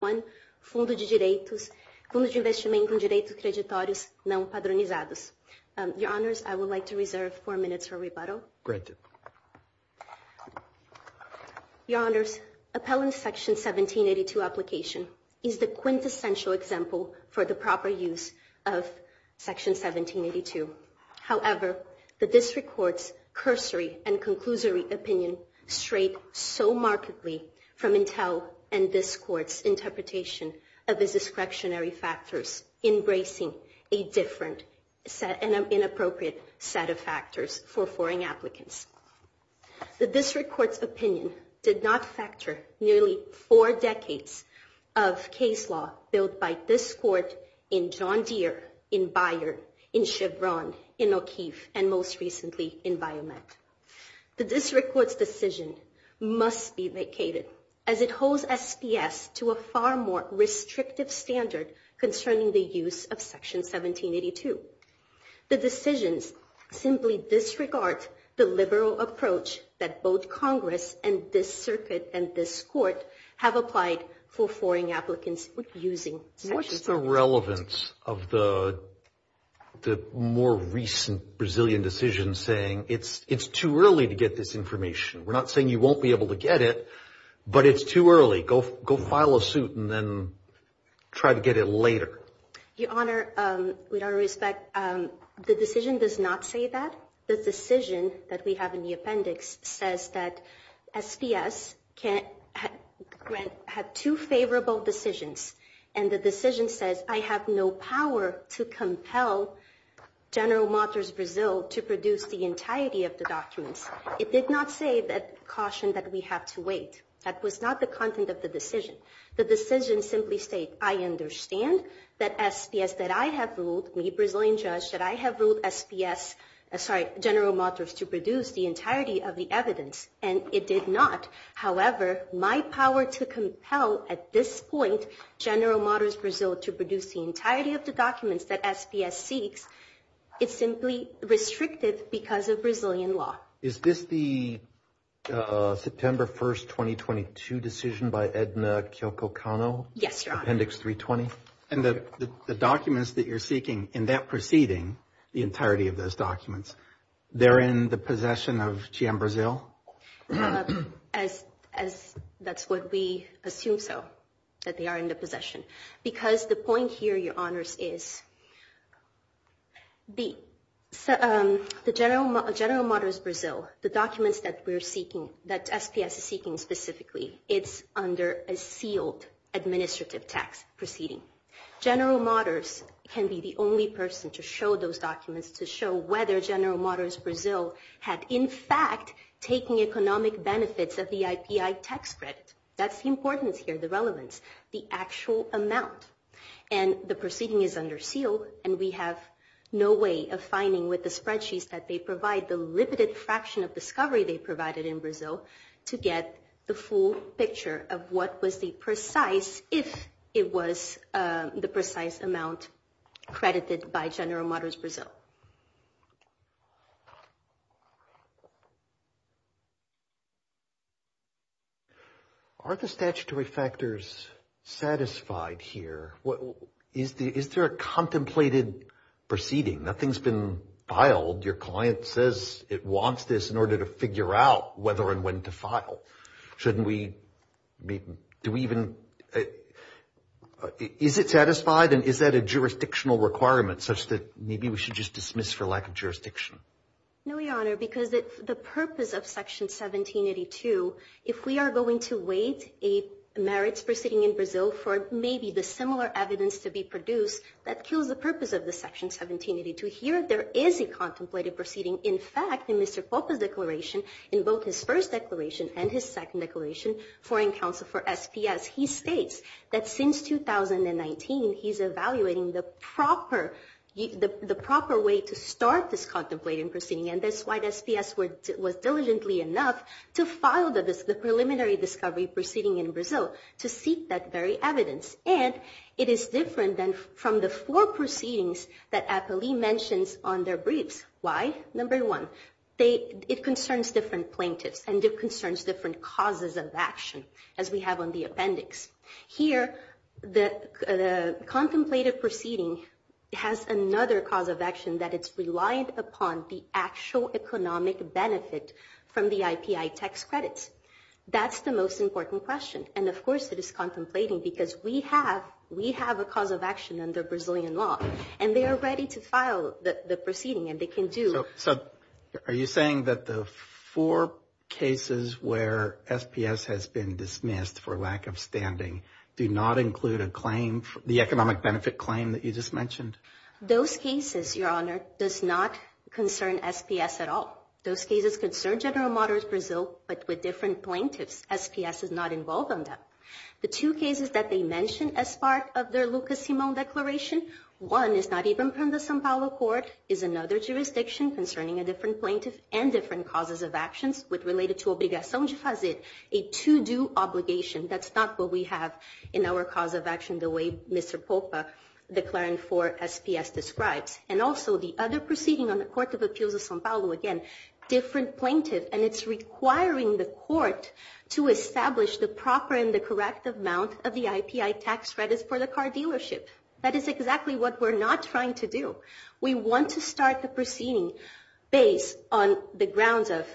1, Fundo de Investimento em Direitos Creditórios Não-Padronizados. Your Honors, I would like to reserve four minutes for rebuttal. Granted. Your Honors, Appellant Section 1782 Application is the quintessential example for the proper use of Section 1782. However, the District Court's cursory and conclusory opinion strayed so markedly from Intel and this Court's interpretation of its discretionary factors, embracing a different and inappropriate set of factors for foreign applicants. The District Court's opinion did not factor nearly four decades of case law built by this Court in John Deere, in Bayer, in Chevron, in O'Keefe, and most recently in Biomet. The District Court's decision must be vacated as it holds SPS to a far more restrictive standard concerning the use of Section 1782. The decisions simply disregard the liberal approach that both Congress and this Circuit and this Court have applied for foreign applicants using Section 1782. What's the relevance of the more recent Brazilian decision saying it's too early to get this information? We're not saying you won't be able to get it, but it's too early. Go file a suit and then try to get it later. Your Honor, with all respect, the decision does not say that. The decision that we have in the appendix says that SPS had two favorable decisions and the decision says I have no power to compel General Matos Brazil to produce the entirety of the documents. It did not say that caution that we have to wait. That was not the content of the decision. The decision simply states I understand that SPS, that I have ruled, me, Brazilian judge, that I have ruled SPS, sorry, General Matos to produce the entirety of the evidence, and it did not. However, my power to compel at this point General Matos Brazil to produce the entirety of the documents that SPS seeks, it's simply restrictive because of Brazilian law. Is this the September 1st, 2022 decision by Edna Kiyoko Kano? Yes, Your Honor. Appendix 320? And the documents that you're seeking in that proceeding, the entirety of those documents, they're in the possession of GM Brazil? As that's what we assume so, that they are in the possession. Because the point here, Your Honors, is the General Matos Brazil, the documents that we're seeking, that SPS is seeking specifically, it's under a sealed administrative tax proceeding. General Matos can be the only person to show those documents, to show whether General Matos Brazil had, in fact, taken economic benefits of the IPI tax credit. That's the importance here, the relevance, the actual amount. And the proceeding is under seal, and we have no way of finding with the spreadsheets that they provide the limited fraction of discovery they provided in Brazil to get the full picture of what was the precise, if it was the precise amount credited by General Matos Brazil. Are the statutory factors satisfied here? Is there a contemplated proceeding? Nothing's been filed. Your client says it wants this in order to figure out whether and when to file. Shouldn't we, do we even, is it satisfied, and is that a jurisdictional requirement, such that maybe we should just dismiss for lack of jurisdiction? No, Your Honor, because the purpose of Section 1782, if we are going to wait a merits proceeding in Brazil for maybe the similar evidence to be produced, that kills the purpose of the Section 1782. Here, there is a contemplated proceeding. In fact, in Mr. Popa's declaration, in both his first declaration and his second declaration, Foreign Counsel for SPS, he states that since 2019, he's evaluating the proper, the proper way to start this contemplated proceeding, and that's why SPS was diligently enough to file the preliminary discovery proceeding in Brazil to seek that very evidence. And it is different than from the four proceedings that Apolli mentions on their briefs. Why? Number one, they, it concerns different plaintiffs, and it concerns different causes of action, as we have on the appendix. Here, the contemplated proceeding has another cause of action, that it's relied upon the actual economic benefit from the IPI tax credits. That's the most important question. And, of course, it is contemplating because we have, we have a cause of action under Brazilian law, and they are ready to file the proceeding, and they can do. So, are you saying that the four cases where SPS has been dismissed for lack of standing do not include a claim, the economic benefit claim that you just mentioned? Those cases, Your Honor, does not concern SPS at all. Those cases concern General Motors Brazil, but with different plaintiffs. SPS is not involved on that. The two cases that they mention as part of their Lucas Simão declaration, one is not even from the São Paulo court, is another jurisdiction concerning a different plaintiff and different causes of actions with related to obrigação de fazer, a to-do obligation. That's not what we have in our cause of action the way Mr. Popa declaring for SPS describes. And also, the other proceeding on the Court of Appeals of São Paulo, again, different plaintiff, and it's requiring the court to establish the proper and the correct amount of the IPI tax credits for the car dealership. That is exactly what we're not trying to do. We want to start the proceeding based on the grounds of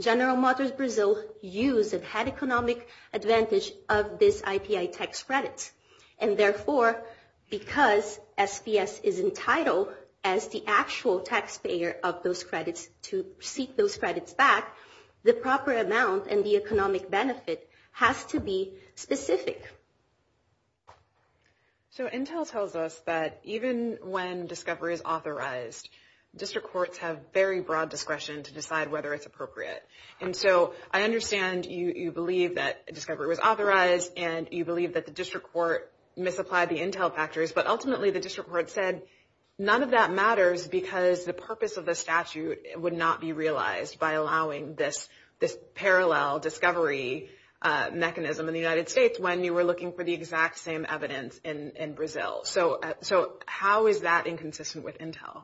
General Motors Brazil use and had economic advantage of this IPI tax credits. And therefore, because SPS is entitled as the actual taxpayer of those credits to seek those credits back, the proper amount and the economic benefit has to be specific. So Intel tells us that even when discovery is authorized, district courts have very broad discretion to decide whether it's appropriate. And so I understand you believe that discovery was authorized and you believe that the district court misapplied the Intel factors, but ultimately the district court said none of that matters because the purpose of the statute would not be realized by allowing this parallel discovery mechanism in the United States when you were looking for the exact same evidence in Brazil. So how is that inconsistent with Intel?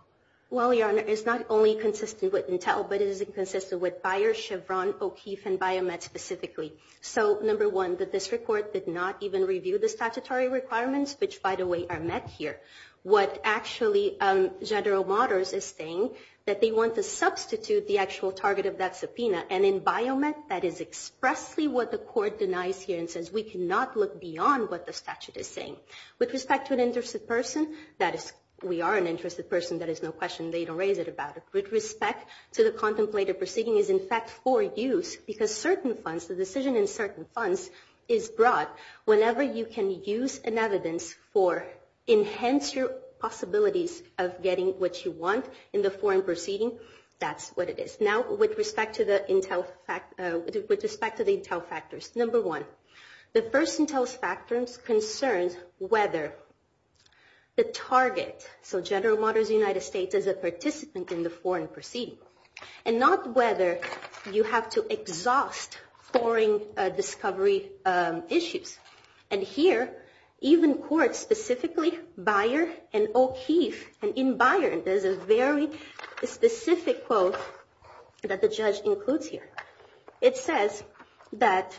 Well, Your Honor, it's not only consistent with Intel, but it is inconsistent with Bayer, Chevron, O'Keefe, and Biomed specifically. So number one, the district court did not even review the statutory requirements, which by the way are met here. What actually General Motors is saying that they want to substitute the actual target of that subpoena. And in Biomed, that is expressly what the court denies here and says we cannot look beyond what the statute is saying. With respect to an interested person, that is we are an interested person, that is no question, they don't raise it about it. With respect to the contemplated proceeding is in fact for use because certain funds, the decision in certain funds is brought whenever you can use an evidence for enhance your possibilities of getting what you want in the foreign proceeding, that's what it is. Now with respect to the Intel factors, number one, the first Intel's factors concerns whether the target, so General Motors United States is a participant in the foreign proceeding and not whether you have to exhaust foreign discovery issues. And here, even courts specifically Bayer and O'Keefe and in Bayer, there's a very specific quote that the judge includes here. It says that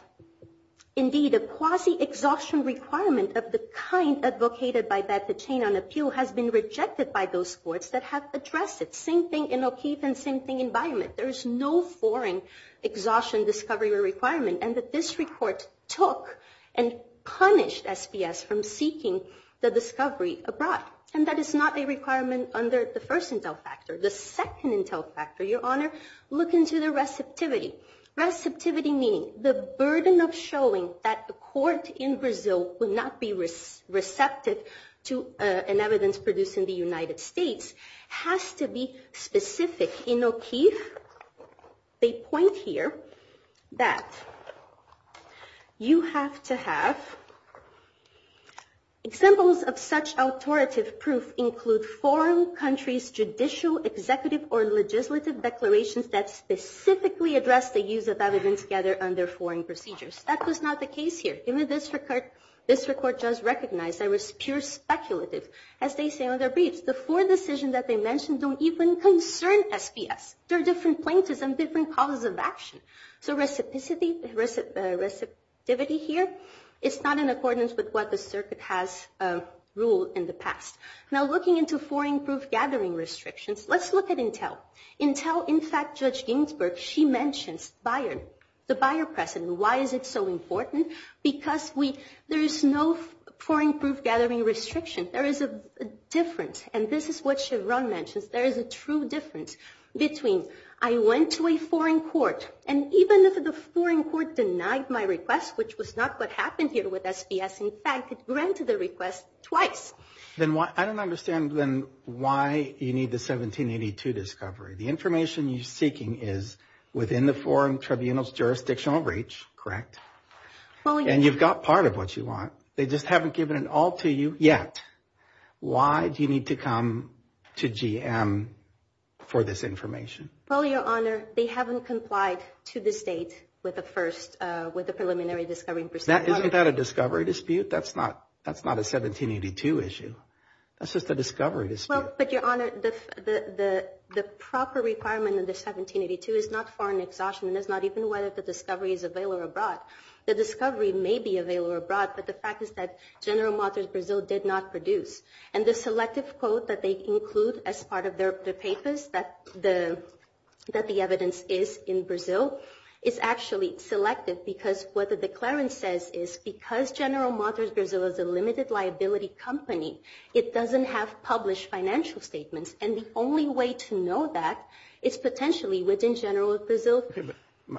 indeed a quasi-exhaustion requirement of the kind advocated by Bethlehem on appeal has been rejected by those courts that have addressed it. Same thing in O'Keefe and same thing in Bayer. There is no foreign exhaustion discovery requirement and that this report took and punished SPS from seeking the discovery abroad. And that is not a requirement under the first Intel factor. The second Intel factor, Your Honor, look into the receptivity. Receptivity meaning the burden of showing that the court in Brazil would not be receptive to an evidence produced in the United States has to be specific. In O'Keefe, they point here that you have to have examples of such authoritative proof include foreign countries' judicial, executive, or legislative declarations that specifically address the use of evidence gathered under foreign procedures. That was not the case here. Even this record does recognize that it was pure speculative. As they say on their briefs, the four decisions that they mentioned don't even concern SPS. There are different plaintiffs and different causes of action. So receptivity here is not in accordance with what the circuit has ruled in the past. Now looking into foreign proof gathering restrictions, let's look at Intel. Intel, in fact, Judge Ginsburg, she mentions Bayer, the Bayer precedent. Why is it so important? Because there is no foreign proof gathering restriction. There is a difference, and this is what Chevron mentions. There is a true difference between I went to a foreign court, and even if the foreign court denied my request, which was not what happened here with SPS, in fact, it granted the request twice. I don't understand then why you need the 1782 discovery. The information you're seeking is within the foreign tribunal's jurisdictional reach, correct? And you've got part of what you want. They just haven't given it all to you yet. Why do you need to come to GM for this information? Well, Your Honor, they haven't complied to the state with the preliminary discovery. Isn't that a discovery dispute? That's not a 1782 issue. That's just a discovery dispute. But, Your Honor, the proper requirement in the 1782 is not foreign exhaustion. It's not even whether the discovery is available abroad. The discovery may be available abroad, but the fact is that General Motors Brazil did not produce. And the selective quote that they include as part of their papers that the evidence is in Brazil is actually selective because what the declarant says is because General Motors Brazil is a limited liability company, it doesn't have published financial statements. And the only way to know that is potentially within General Motors Brazil,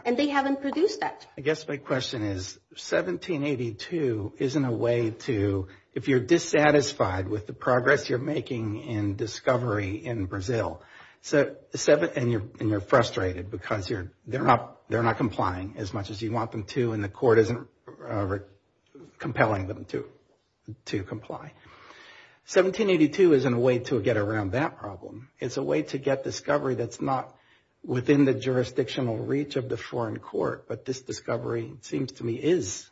and they haven't produced that. I guess my question is 1782 isn't a way to, if you're dissatisfied with the progress you're making in discovery in Brazil, and you're frustrated because they're not complying as much as you want them to and the court isn't compelling them to comply. 1782 isn't a way to get around that problem. It's a way to get discovery that's not within the jurisdictional reach of the foreign court, but this discovery seems to me is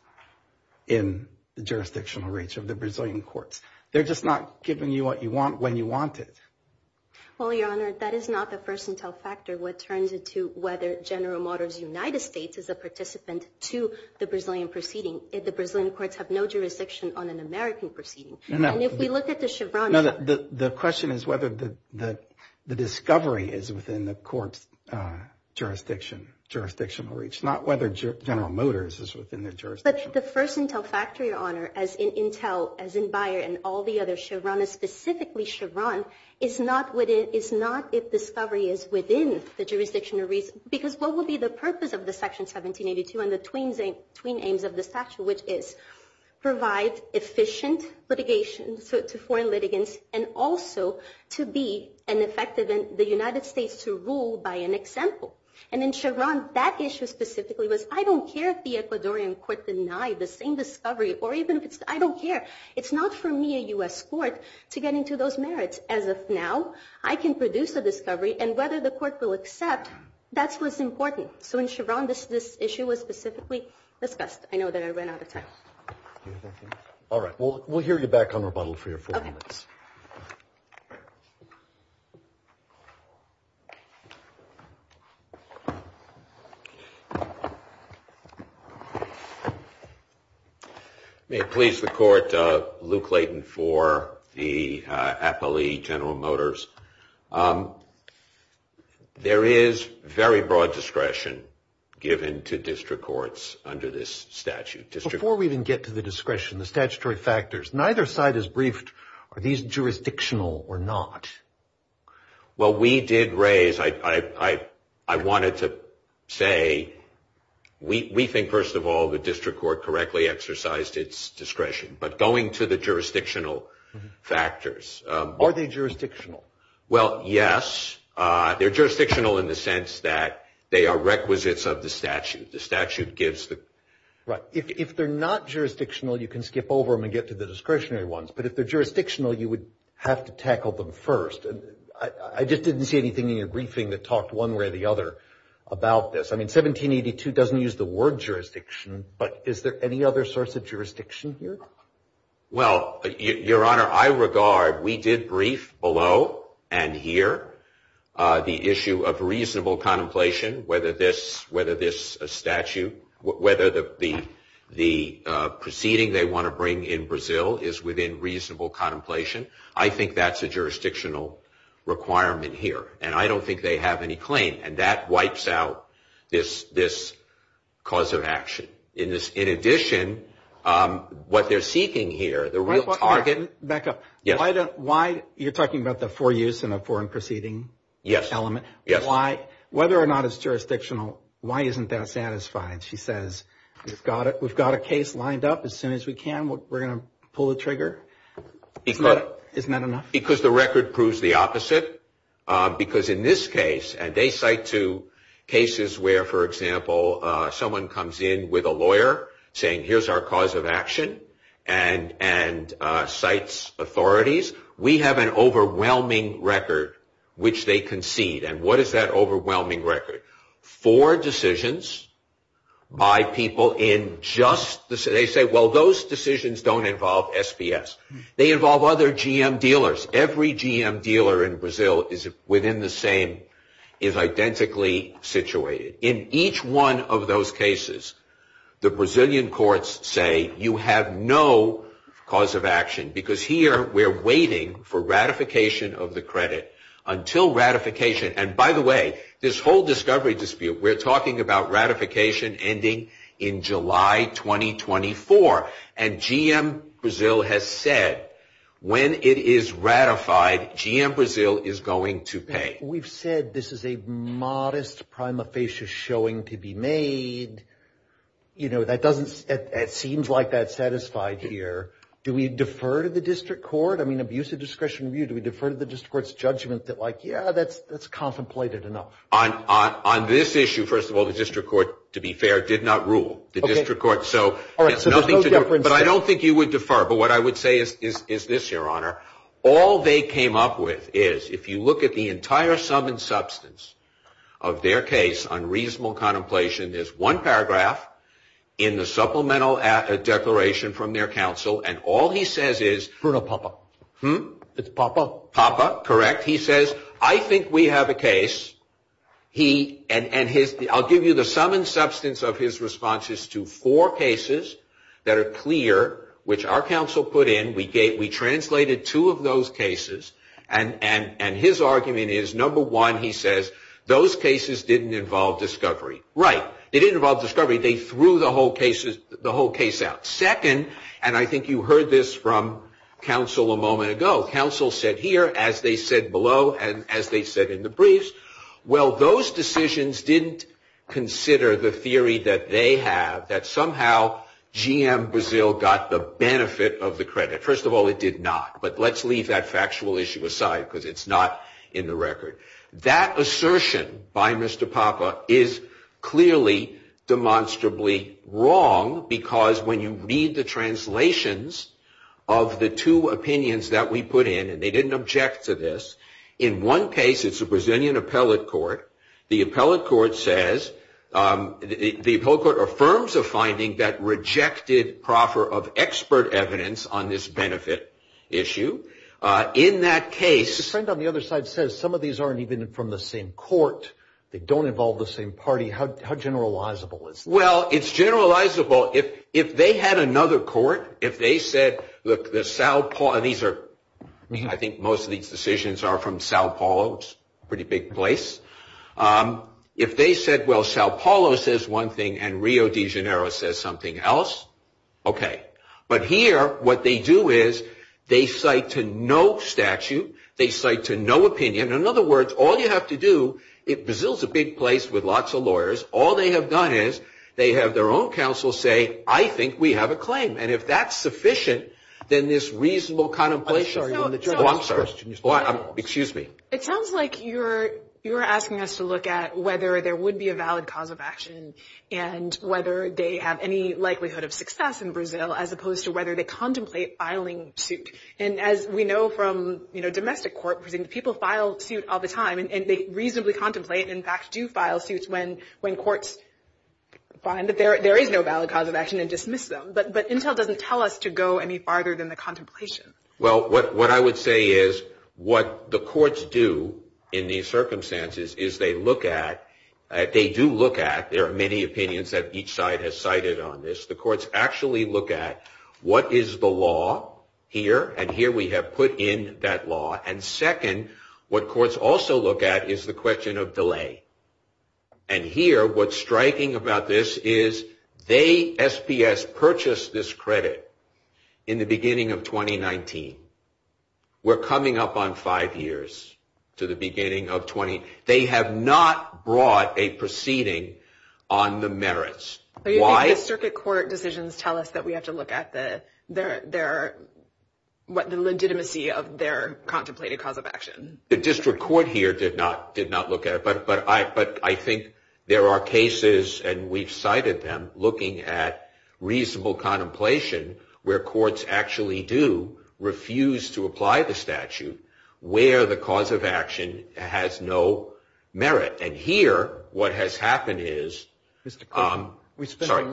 in the jurisdictional reach of the Brazilian courts. They're just not giving you what you want when you want it. Well, Your Honor, that is not the first intel factor. What turns it to whether General Motors United States is a participant to the Brazilian proceeding. The Brazilian courts have no jurisdiction on an American proceeding. And if we look at the Chevron. The question is whether the discovery is within the court's jurisdiction, jurisdictional reach, not whether General Motors is within their jurisdiction. But the first intel factor, Your Honor, as in Intel, as in Bayer and all the other Chevron, specifically Chevron, is not if discovery is within the jurisdictional reach. Because what would be the purpose of the Section 1782 and the twin aims of the statute, which is provide efficient litigation to foreign litigants and also to be an effective in the United States to rule by an example. And in Chevron, that issue specifically was I don't care if the Ecuadorian court denied the same discovery, or even if it's I don't care. It's not for me, a U.S. court, to get into those merits. As of now, I can produce a discovery. And whether the court will accept, that's what's important. So in Chevron, this issue was specifically discussed. I know that I ran out of time. All right. We'll hear you back on rebuttal for your four minutes. May it please the Court, Luke Layton for the appellee, General Motors. There is very broad discretion given to district courts under this statute. Before we even get to the discretion, the statutory factors, neither side is briefed, are these jurisdictional or not? Well, we did raise, I wanted to say, we think, first of all, the district court correctly exercised its discretion. But going to the jurisdictional factors. Are they jurisdictional? Well, yes. They're jurisdictional in the sense that they are requisites of the statute. Right. If they're not jurisdictional, you can skip over them and get to the discretionary ones. But if they're jurisdictional, you would have to tackle them first. And I just didn't see anything in your briefing that talked one way or the other about this. I mean, 1782 doesn't use the word jurisdiction. But is there any other source of jurisdiction here? Well, Your Honor, I regard we did brief below and here the issue of reasonable contemplation, whether this statute, whether the proceeding they want to bring in Brazil is within reasonable contemplation, I think that's a jurisdictional requirement here. And I don't think they have any claim. And that wipes out this cause of action. In addition, what they're seeking here, the real target. Back up. Yes. Whether or not it's jurisdictional, why isn't that satisfied? She says, we've got a case lined up. As soon as we can, we're going to pull the trigger. Isn't that enough? Because the record proves the opposite. Because in this case, and they cite two cases where, for example, someone comes in with a lawyer saying, here's our cause of action, and cites authorities. We have an overwhelming record, which they concede. And what is that overwhelming record? Four decisions by people in just, they say, well, those decisions don't involve SPS. They involve other GM dealers. Every GM dealer in Brazil is within the same, is identically situated. In each one of those cases, the Brazilian courts say, you have no cause of action. Because here, we're waiting for ratification of the credit. Until ratification, and by the way, this whole discovery dispute, we're talking about ratification ending in July 2024. And GM Brazil has said, when it is ratified, GM Brazil is going to pay. We've said this is a modest prima facie showing to be made. You know, that doesn't, it seems like that's satisfied here. Do we defer to the district court? I mean, abuse of discretion review, do we defer to the district court's judgment that, like, yeah, that's contemplated enough? On this issue, first of all, the district court, to be fair, did not rule. The district court, so there's nothing to do. But I don't think you would defer. But what I would say is this, Your Honor. All they came up with is, if you look at the entire sum and substance of their case on reasonable contemplation, there's one paragraph in the supplemental declaration from their counsel, and all he says is. Bruno Papa. Hmm? It's Papa. Papa, correct. He says, I think we have a case. And I'll give you the sum and substance of his responses to four cases that are clear, which our counsel put in. We translated two of those cases. And his argument is, number one, he says, those cases didn't involve discovery. Right. They didn't involve discovery. They threw the whole case out. Second, and I think you heard this from counsel a moment ago. Counsel said here, as they said below and as they said in the briefs, well, those decisions didn't consider the theory that they have, that somehow GM Brazil got the benefit of the credit. First of all, it did not. But let's leave that factual issue aside because it's not in the record. That assertion by Mr. Papa is clearly demonstrably wrong, because when you read the translations of the two opinions that we put in, and they didn't object to this, in one case, it's a Brazilian appellate court. The appellate court says, the appellate court affirms a finding that rejected proffer of expert evidence on this benefit issue. In that case. Your friend on the other side says, some of these aren't even from the same court. They don't involve the same party. How generalizable is that? Well, it's generalizable. If they had another court, if they said, look, these are, I think most of these decisions are from Sao Paulo, which is a pretty big place. If they said, well, Sao Paulo says one thing and Rio de Janeiro says something else, okay. But here, what they do is, they cite to no statute, they cite to no opinion. In other words, all you have to do, Brazil's a big place with lots of lawyers. All they have done is, they have their own counsel say, I think we have a claim. And if that's sufficient, then this reasonable contemplation. I'm sorry. I'm sorry. Excuse me. It sounds like you're asking us to look at whether there would be a valid cause of action and whether they have any likelihood of success in Brazil as opposed to whether they contemplate filing suit. And as we know from, you know, domestic court proceedings, people file suit all the time. And they reasonably contemplate and, in fact, do file suits when courts find that there is no valid cause of action and dismiss them. But Intel doesn't tell us to go any farther than the contemplation. Well, what I would say is, what the courts do in these circumstances is they look at, they do look at, there are many opinions that each side has cited on this. The courts actually look at, what is the law here? And here we have put in that law. And second, what courts also look at is the question of delay. And here, what's striking about this is, they, SPS, purchased this credit in the beginning of 2019. We're coming up on five years to the beginning of 2019. They have not brought a proceeding on the merits. Why? The circuit court decisions tell us that we have to look at the legitimacy of their contemplated cause of action. The district court here did not look at it. But I think there are cases, and we've cited them, looking at reasonable contemplation, where courts actually do refuse to apply the statute where the cause of action has no merit. And here, what has happened is, sorry,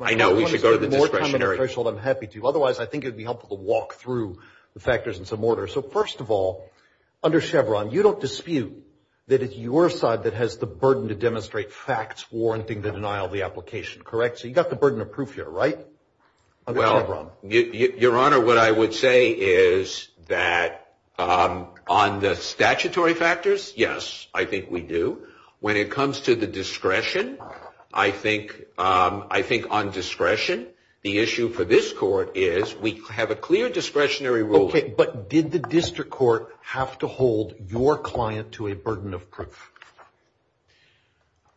I know we should go to the discretionary. I'm happy to. Otherwise, I think it would be helpful to walk through the factors in some order. So, first of all, under Chevron, you don't dispute that it's your side that has the burden to demonstrate facts warranting the denial of the application, correct? So, you've got the burden of proof here, right? Under Chevron. Your Honor, what I would say is that on the statutory factors, yes, I think we do. When it comes to the discretion, I think on discretion, the issue for this court is, we have a clear discretionary ruling. Okay, but did the district court have to hold your client to a burden of proof?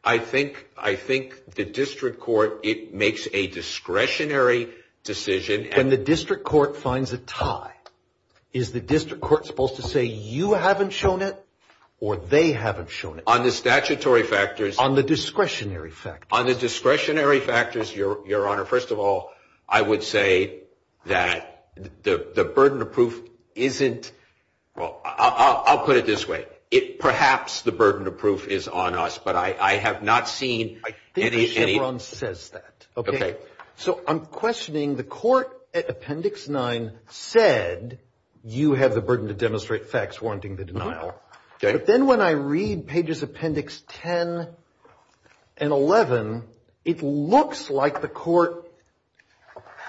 I think the district court, it makes a discretionary decision. When the district court finds a tie, is the district court supposed to say, you haven't shown it, or they haven't shown it? On the statutory factors. On the discretionary factors. On the discretionary factors, Your Honor, first of all, I would say that the burden of proof isn't, well, I'll put it this way. Perhaps the burden of proof is on us, but I have not seen any. I think Chevron says that. Okay. So, I'm questioning the court at Appendix 9 said, you have the burden to demonstrate facts warranting the denial. Okay. But then when I read pages Appendix 10 and 11, it looks like the court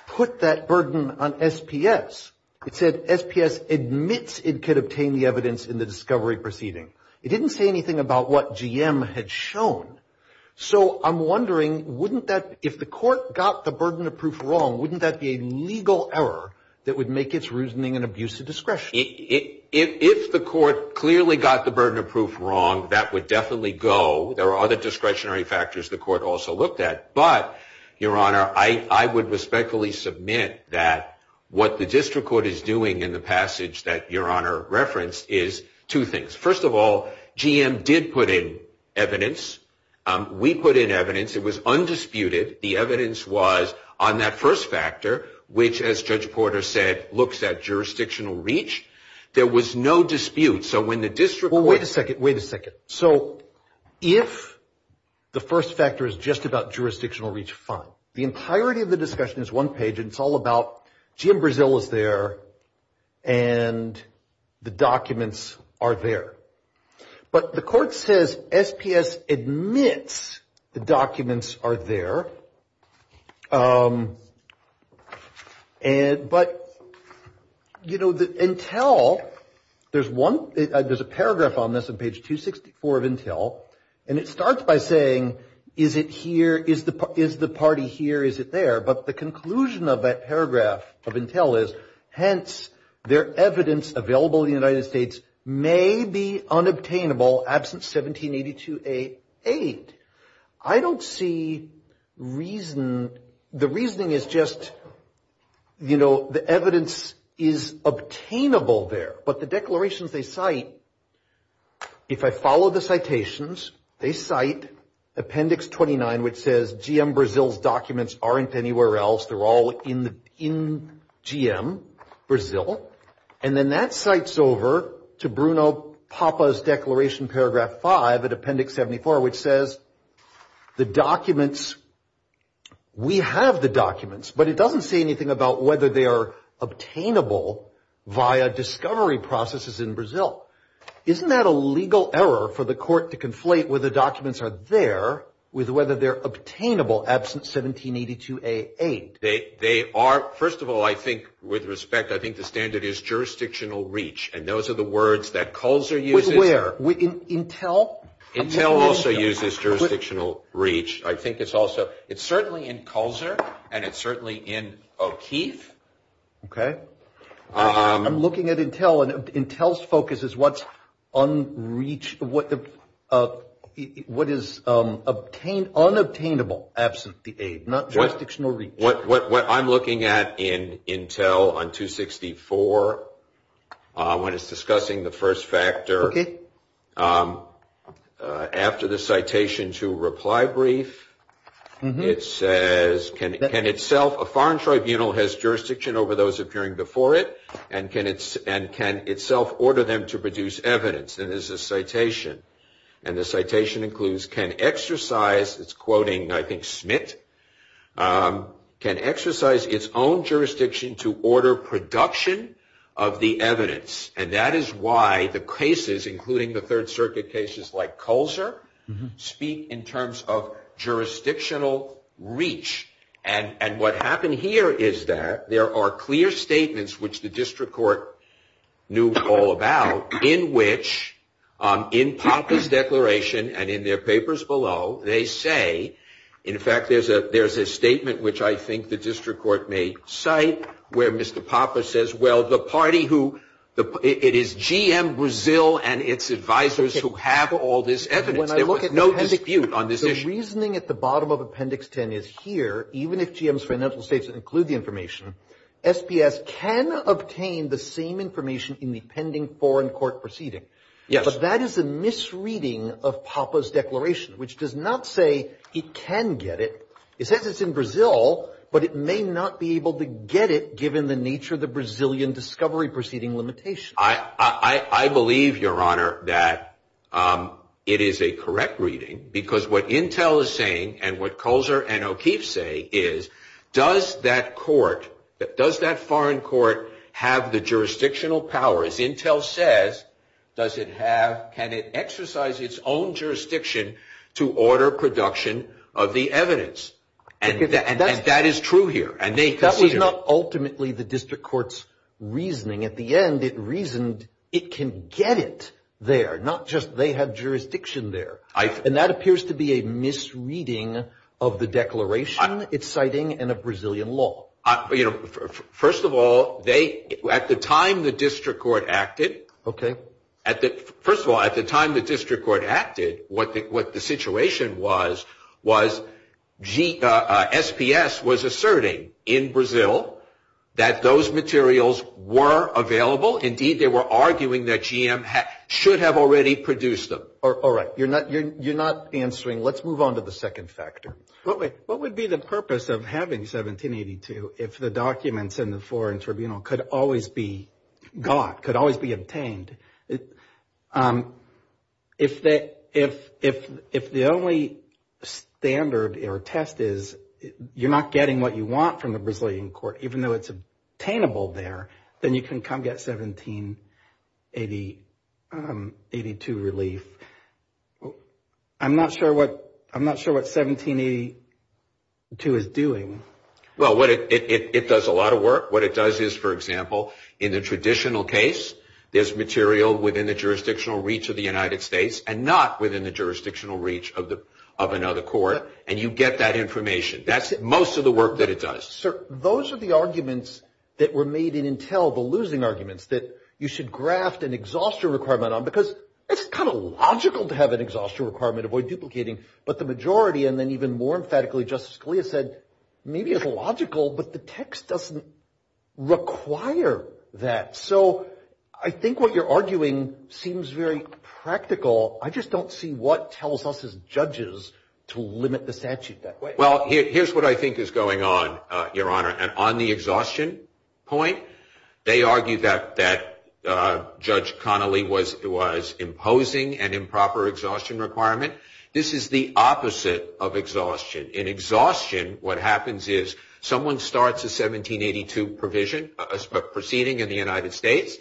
put that burden on SPS. It said SPS admits it could obtain the evidence in the discovery proceeding. It didn't say anything about what GM had shown. So, I'm wondering, wouldn't that, if the court got the burden of proof wrong, wouldn't that be a legal error that would make its reasoning an abusive discretion? If the court clearly got the burden of proof wrong, that would definitely go. There are other discretionary factors the court also looked at. But, Your Honor, I would respectfully submit that what the district court is doing in the passage that Your Honor referenced is two things. First of all, GM did put in evidence. We put in evidence. It was undisputed. The evidence was on that first factor, which, as Judge Porter said, looks at jurisdictional reach. There was no dispute. Wait a second. Wait a second. So, if the first factor is just about jurisdictional reach, fine. The entirety of the discussion is one page, and it's all about GM Brazil is there, and the documents are there. But the court says SPS admits the documents are there. But, you know, Intel, there's one, there's a paragraph on this on page 264 of Intel, and it starts by saying, is it here, is the party here, is it there? But the conclusion of that paragraph of Intel is, hence, their evidence available in the United States may be unobtainable absent 1782A8. I don't see reason. The reasoning is just, you know, the evidence is obtainable there. But the declarations they cite, if I follow the citations, they cite Appendix 29, which says GM Brazil's documents aren't anywhere else. They're all in GM Brazil. And then that cites over to Bruno Papa's Declaration, Paragraph 5, at Appendix 74, which says the documents, we have the documents, but it doesn't say anything about whether they are obtainable via discovery processes in Brazil. Isn't that a legal error for the court to conflate whether documents are there with whether they're obtainable absent 1782A8? They are. First of all, I think, with respect, I think the standard is jurisdictional reach. And those are the words that CULSR uses. Where? Intel? Intel also uses jurisdictional reach. I think it's also, it's certainly in CULSR, and it's certainly in O'Keefe. Okay. I'm looking at Intel, and Intel's focus is what's unreachable, what is unobtainable absent the aid, not jurisdictional reach. What I'm looking at in Intel on 264, when it's discussing the first factor, after the citation to reply brief, it says, can itself, a foreign tribunal has jurisdiction over those appearing before it, and can itself order them to produce evidence. And there's a citation, and the citation includes, can exercise, it's quoting, I think, Smith, can exercise its own jurisdiction to order production of the evidence. And that is why the cases, including the Third Circuit cases like CULSR, speak in terms of jurisdictional reach. And what happened here is that there are clear statements, which the district court knew all about, in which, in PAPA's declaration, and in their papers below, they say, in fact, there's a statement which I think the district court may cite, where Mr. PAPA says, well, the party who, it is GM Brazil and its advisors who have all this evidence. There was no dispute on this issue. The reasoning at the bottom of Appendix 10 is here, even if GM's financial statements include the information, SPS can obtain the same information in the pending foreign court proceeding. Yes. But that is a misreading of PAPA's declaration, which does not say it can get it. It says it's in Brazil, but it may not be able to get it, given the nature of the Brazilian discovery proceeding limitation. I believe, Your Honor, that it is a correct reading, because what Intel is saying and what CULSR and O'Keefe say is, does that court, does that foreign court have the jurisdictional powers? Intel says, does it have, can it exercise its own jurisdiction to order production of the evidence? And that is true here. That was not ultimately the district court's reasoning. At the end, it reasoned it can get it there, not just they have jurisdiction there. And that appears to be a misreading of the declaration it's citing and of Brazilian law. First of all, at the time the district court acted, what the situation was, SPS was asserting in Brazil that those materials were available. Indeed, they were arguing that GM should have already produced them. All right. You're not answering. Let's move on to the second factor. What would be the purpose of having 1782 if the documents in the foreign tribunal could always be got, could always be obtained? If the only standard or test is you're not getting what you want from the Brazilian court, even though it's obtainable there, then you can come get 1782 relief. I'm not sure what 1782 is doing. Well, it does a lot of work. What it does is, for example, in the traditional case, there's material within the jurisdictional reach of the United States and not within the jurisdictional reach of another court, and you get that information. That's most of the work that it does. Sir, those are the arguments that were made in Intel, the losing arguments, that you should graft an exhaustion requirement on because it's kind of logical to have an exhaustion requirement, avoid duplicating, but the majority, and then even more emphatically, Justice Scalia said, maybe it's logical, but the text doesn't require that. So I think what you're arguing seems very practical. I just don't see what tells us as judges to limit the statute that way. Well, here's what I think is going on, Your Honor, and on the exhaustion point, they argue that Judge Connolly was imposing an improper exhaustion requirement. This is the opposite of exhaustion. In exhaustion, what happens is someone starts a 1782 proceeding in the United States,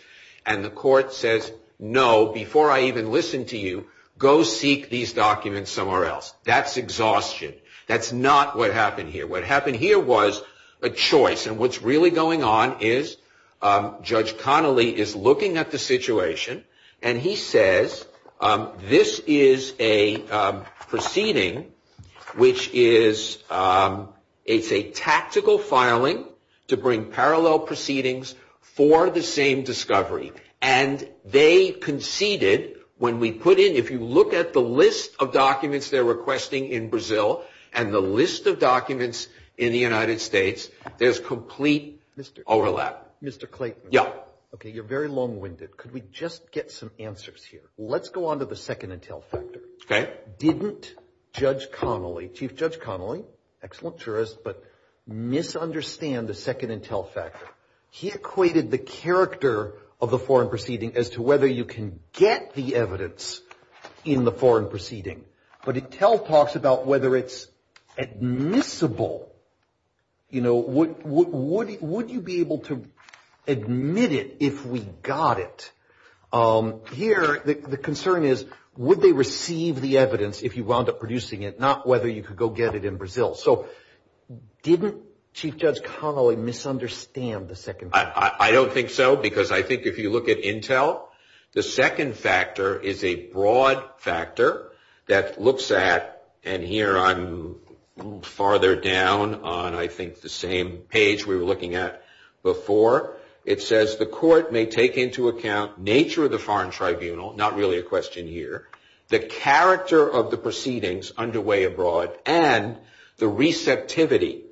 and the court says, no, before I even listen to you, go seek these documents somewhere else. That's exhaustion. That's not what happened here. What happened here was a choice, and what's really going on is Judge Connolly is looking at the situation, and he says this is a proceeding which is a tactical filing to bring parallel proceedings for the same discovery, and they conceded when we put in, if you look at the list of documents they're requesting in Brazil and the list of documents in the United States, there's complete overlap. Mr. Clayton. Yeah. Okay, you're very long-winded. Could we just get some answers here? Let's go on to the second intel factor. Okay. Didn't Judge Connolly, Chief Judge Connolly, excellent jurist, but misunderstand the second intel factor. He equated the character of the foreign proceeding as to whether you can get the evidence in the foreign proceeding, but intel talks about whether it's admissible. You know, would you be able to admit it if we got it? Here the concern is would they receive the evidence if you wound up producing it, not whether you could go get it in Brazil. So didn't Chief Judge Connolly misunderstand the second factor? That looks at, and here I'm farther down on I think the same page we were looking at before. It says the court may take into account nature of the foreign tribunal, not really a question here, the character of the proceedings underway abroad, and the receptivity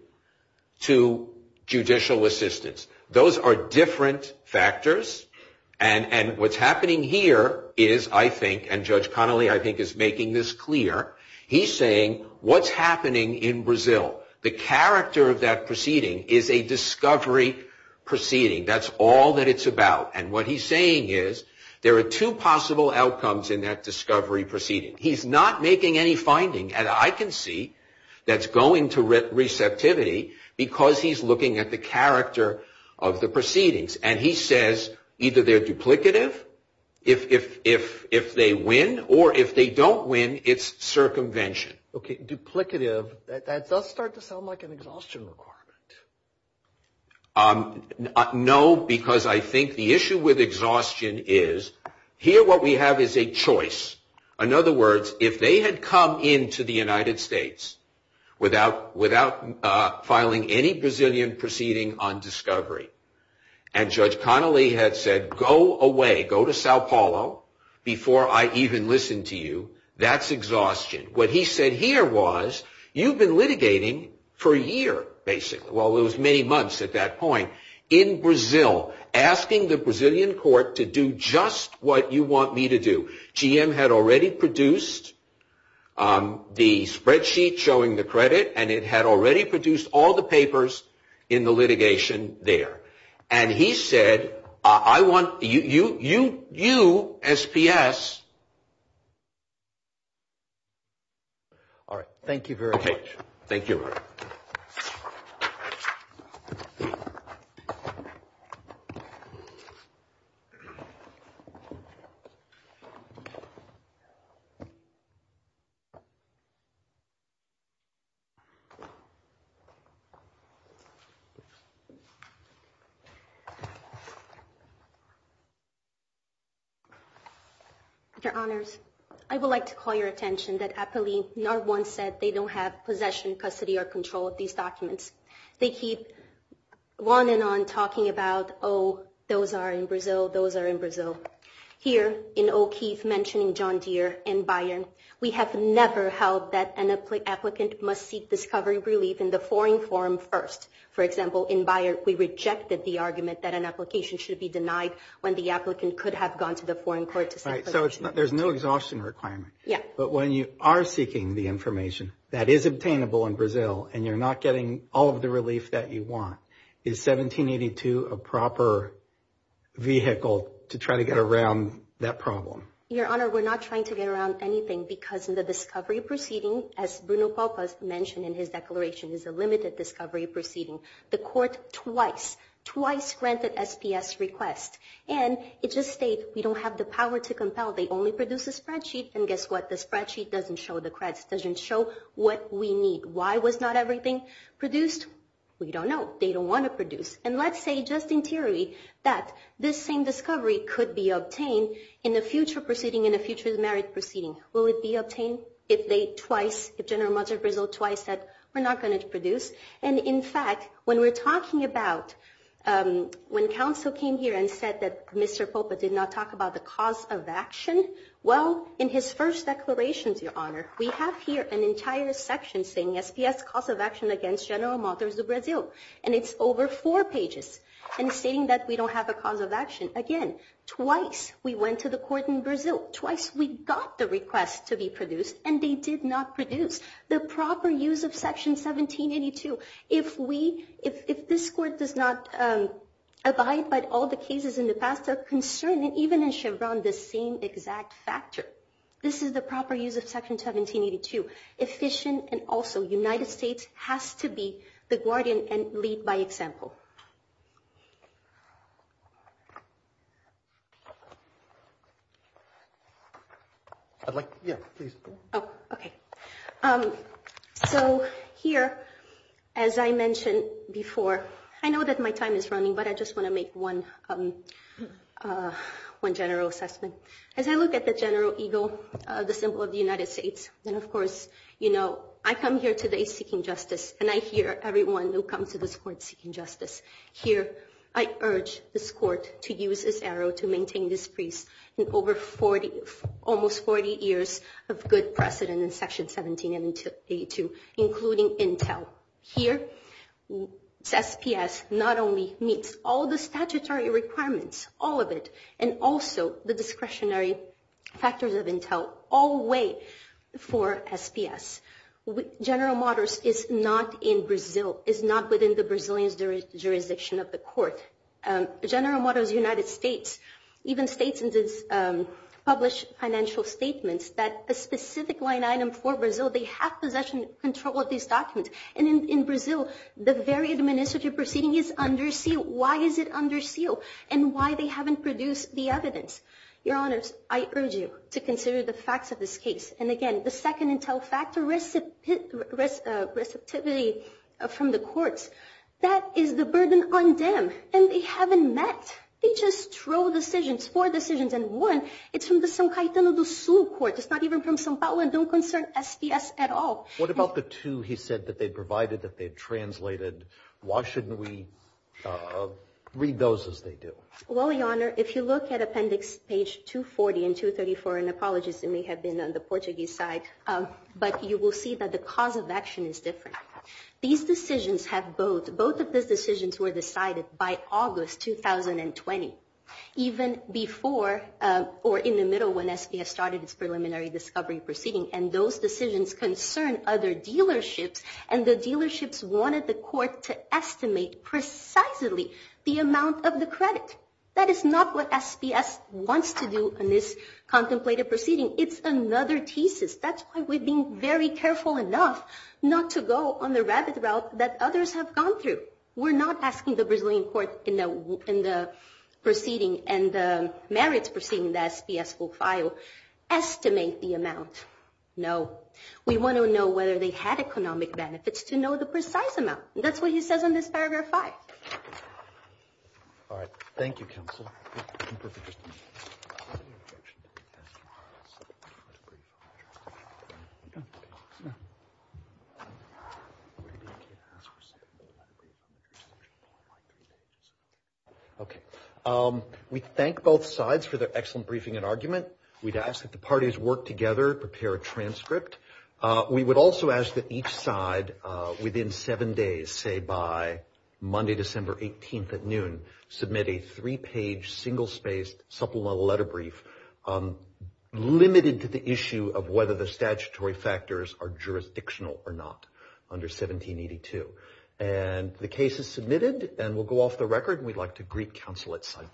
to judicial assistance. Those are different factors. And what's happening here is I think, and Judge Connolly I think is making this clear, he's saying what's happening in Brazil. The character of that proceeding is a discovery proceeding. That's all that it's about. And what he's saying is there are two possible outcomes in that discovery proceeding. He's not making any finding, and I can see that's going to receptivity because he's looking at the character of the proceedings. And he says either they're duplicative, if they win, or if they don't win, it's circumvention. Okay, duplicative, that does start to sound like an exhaustion requirement. No, because I think the issue with exhaustion is here what we have is a choice. In other words, if they had come into the United States without filing any Brazilian proceeding on discovery, and Judge Connolly had said go away, go to Sao Paulo before I even listen to you, that's exhaustion. What he said here was you've been litigating for a year, basically. Well, it was many months at that point in Brazil, asking the Brazilian court to do just what you want me to do. GM had already produced the spreadsheet showing the credit, and it had already produced all the papers in the litigation there. And he said, I want you, you, you, you, SPS. Your Honors, I would like to call your attention that Apolline not once said they don't have possession, custody, or control of these documents. They keep on and on talking about, oh, those are in Brazil, those are in Brazil. Here in O'Keefe mentioning John Deere and Bayern, we have never held that an applicant must seek discovery relief in the foreign forum first. For example, in Bayern, we rejected the argument that an application should be denied when the applicant could have gone to the foreign court to seek protection. So there's no exhaustion requirement. Yeah. But when you are seeking the information that is obtainable in Brazil and you're not getting all of the relief that you want, is 1782 a proper vehicle to try to get around that problem? Your Honor, we're not trying to get around anything because in the discovery proceeding, as Bruno Palpas mentioned in his declaration, is a limited discovery proceeding. The court twice, twice granted SPS requests. And it just states we don't have the power to compel. They only produce a spreadsheet. And guess what? The spreadsheet doesn't show the creds. It doesn't show what we need. Why was not everything produced? We don't know. They don't want to produce. And let's say just in theory that this same discovery could be obtained in a future proceeding, in a future merit proceeding. Will it be obtained if they twice, if General Amador de Brazil twice said we're not going to produce? And, in fact, when we're talking about when counsel came here and said that Mr. Palpas did not talk about the cause of action, well, in his first declaration, Your Honor, we have here an entire section saying SPS cause of action against General Amador de Brazil. And it's over four pages. And it's saying that we don't have a cause of action. Again, twice we went to the court in Brazil. Twice we got the request to be produced. And they did not produce. The proper use of Section 1782, if we, if this Court does not abide by all the cases in the past, they're concerning even in Chevron the same exact factor. This is the proper use of Section 1782. Efficient and also United States has to be the guardian and lead by example. So here, as I mentioned before, I know that my time is running, but I just want to make one general assessment. As I look at the general ego, the symbol of the United States, and, of course, you know, I come here today seeking justice, and I hear everyone who comes to this Court seeking justice. Here, I urge this Court to use this arrow to maintain this peace in over 40, almost 40 years of good precedent in Section 1782, including intel. Here, SPS not only meets all the statutory requirements, all of it, and also the discretionary factors of intel, all way for SPS. General Motors is not in Brazil, is not within the Brazilian jurisdiction of the Court. General Motors United States even states in its published financial statements that a specific line item for Brazil, they have possession and control of these documents. And in Brazil, the very administrative proceeding is under seal. Why is it under seal, and why they haven't produced the evidence? Your Honors, I urge you to consider the facts of this case. And again, the second intel factor, receptivity from the Courts, that is the burden on them, and they haven't met. They just throw decisions, four decisions, and one, it's from the São Caetano do Sul Court. It's not even from São Paulo, and don't concern SPS at all. What about the two he said that they provided, that they translated? Why shouldn't we read those as they do? Well, Your Honor, if you look at appendix page 240 and 234, and apologies, it may have been on the Portuguese side, but you will see that the cause of action is different. These decisions have both, both of these decisions were decided by August 2020, even before or in the middle when SPS started its preliminary discovery proceeding, and those decisions concern other dealerships, and the dealerships wanted the Court to estimate precisely the amount of the credit. That is not what SPS wants to do in this contemplated proceeding. It's another thesis. That's why we've been very careful enough not to go on the rabbit route that others have gone through. We're not asking the Brazilian Court in the proceeding and the merits proceeding that SPS will file, estimate the amount. No. We want to know whether they had economic benefits to know the precise amount. That's what he says in this paragraph five. All right. Thank you, counsel. Okay. We thank both sides for their excellent briefing and argument. We'd ask that the parties work together, prepare a transcript. We would also ask that each side, within seven days, say by Monday, December 18th at noon, submit a three-page, single-spaced supplemental letter brief, limited to the issue of whether the statutory factors are jurisdictional or not under 1782. And the case is submitted, and we'll go off the record, and we'd like to greet counsel at sidebar.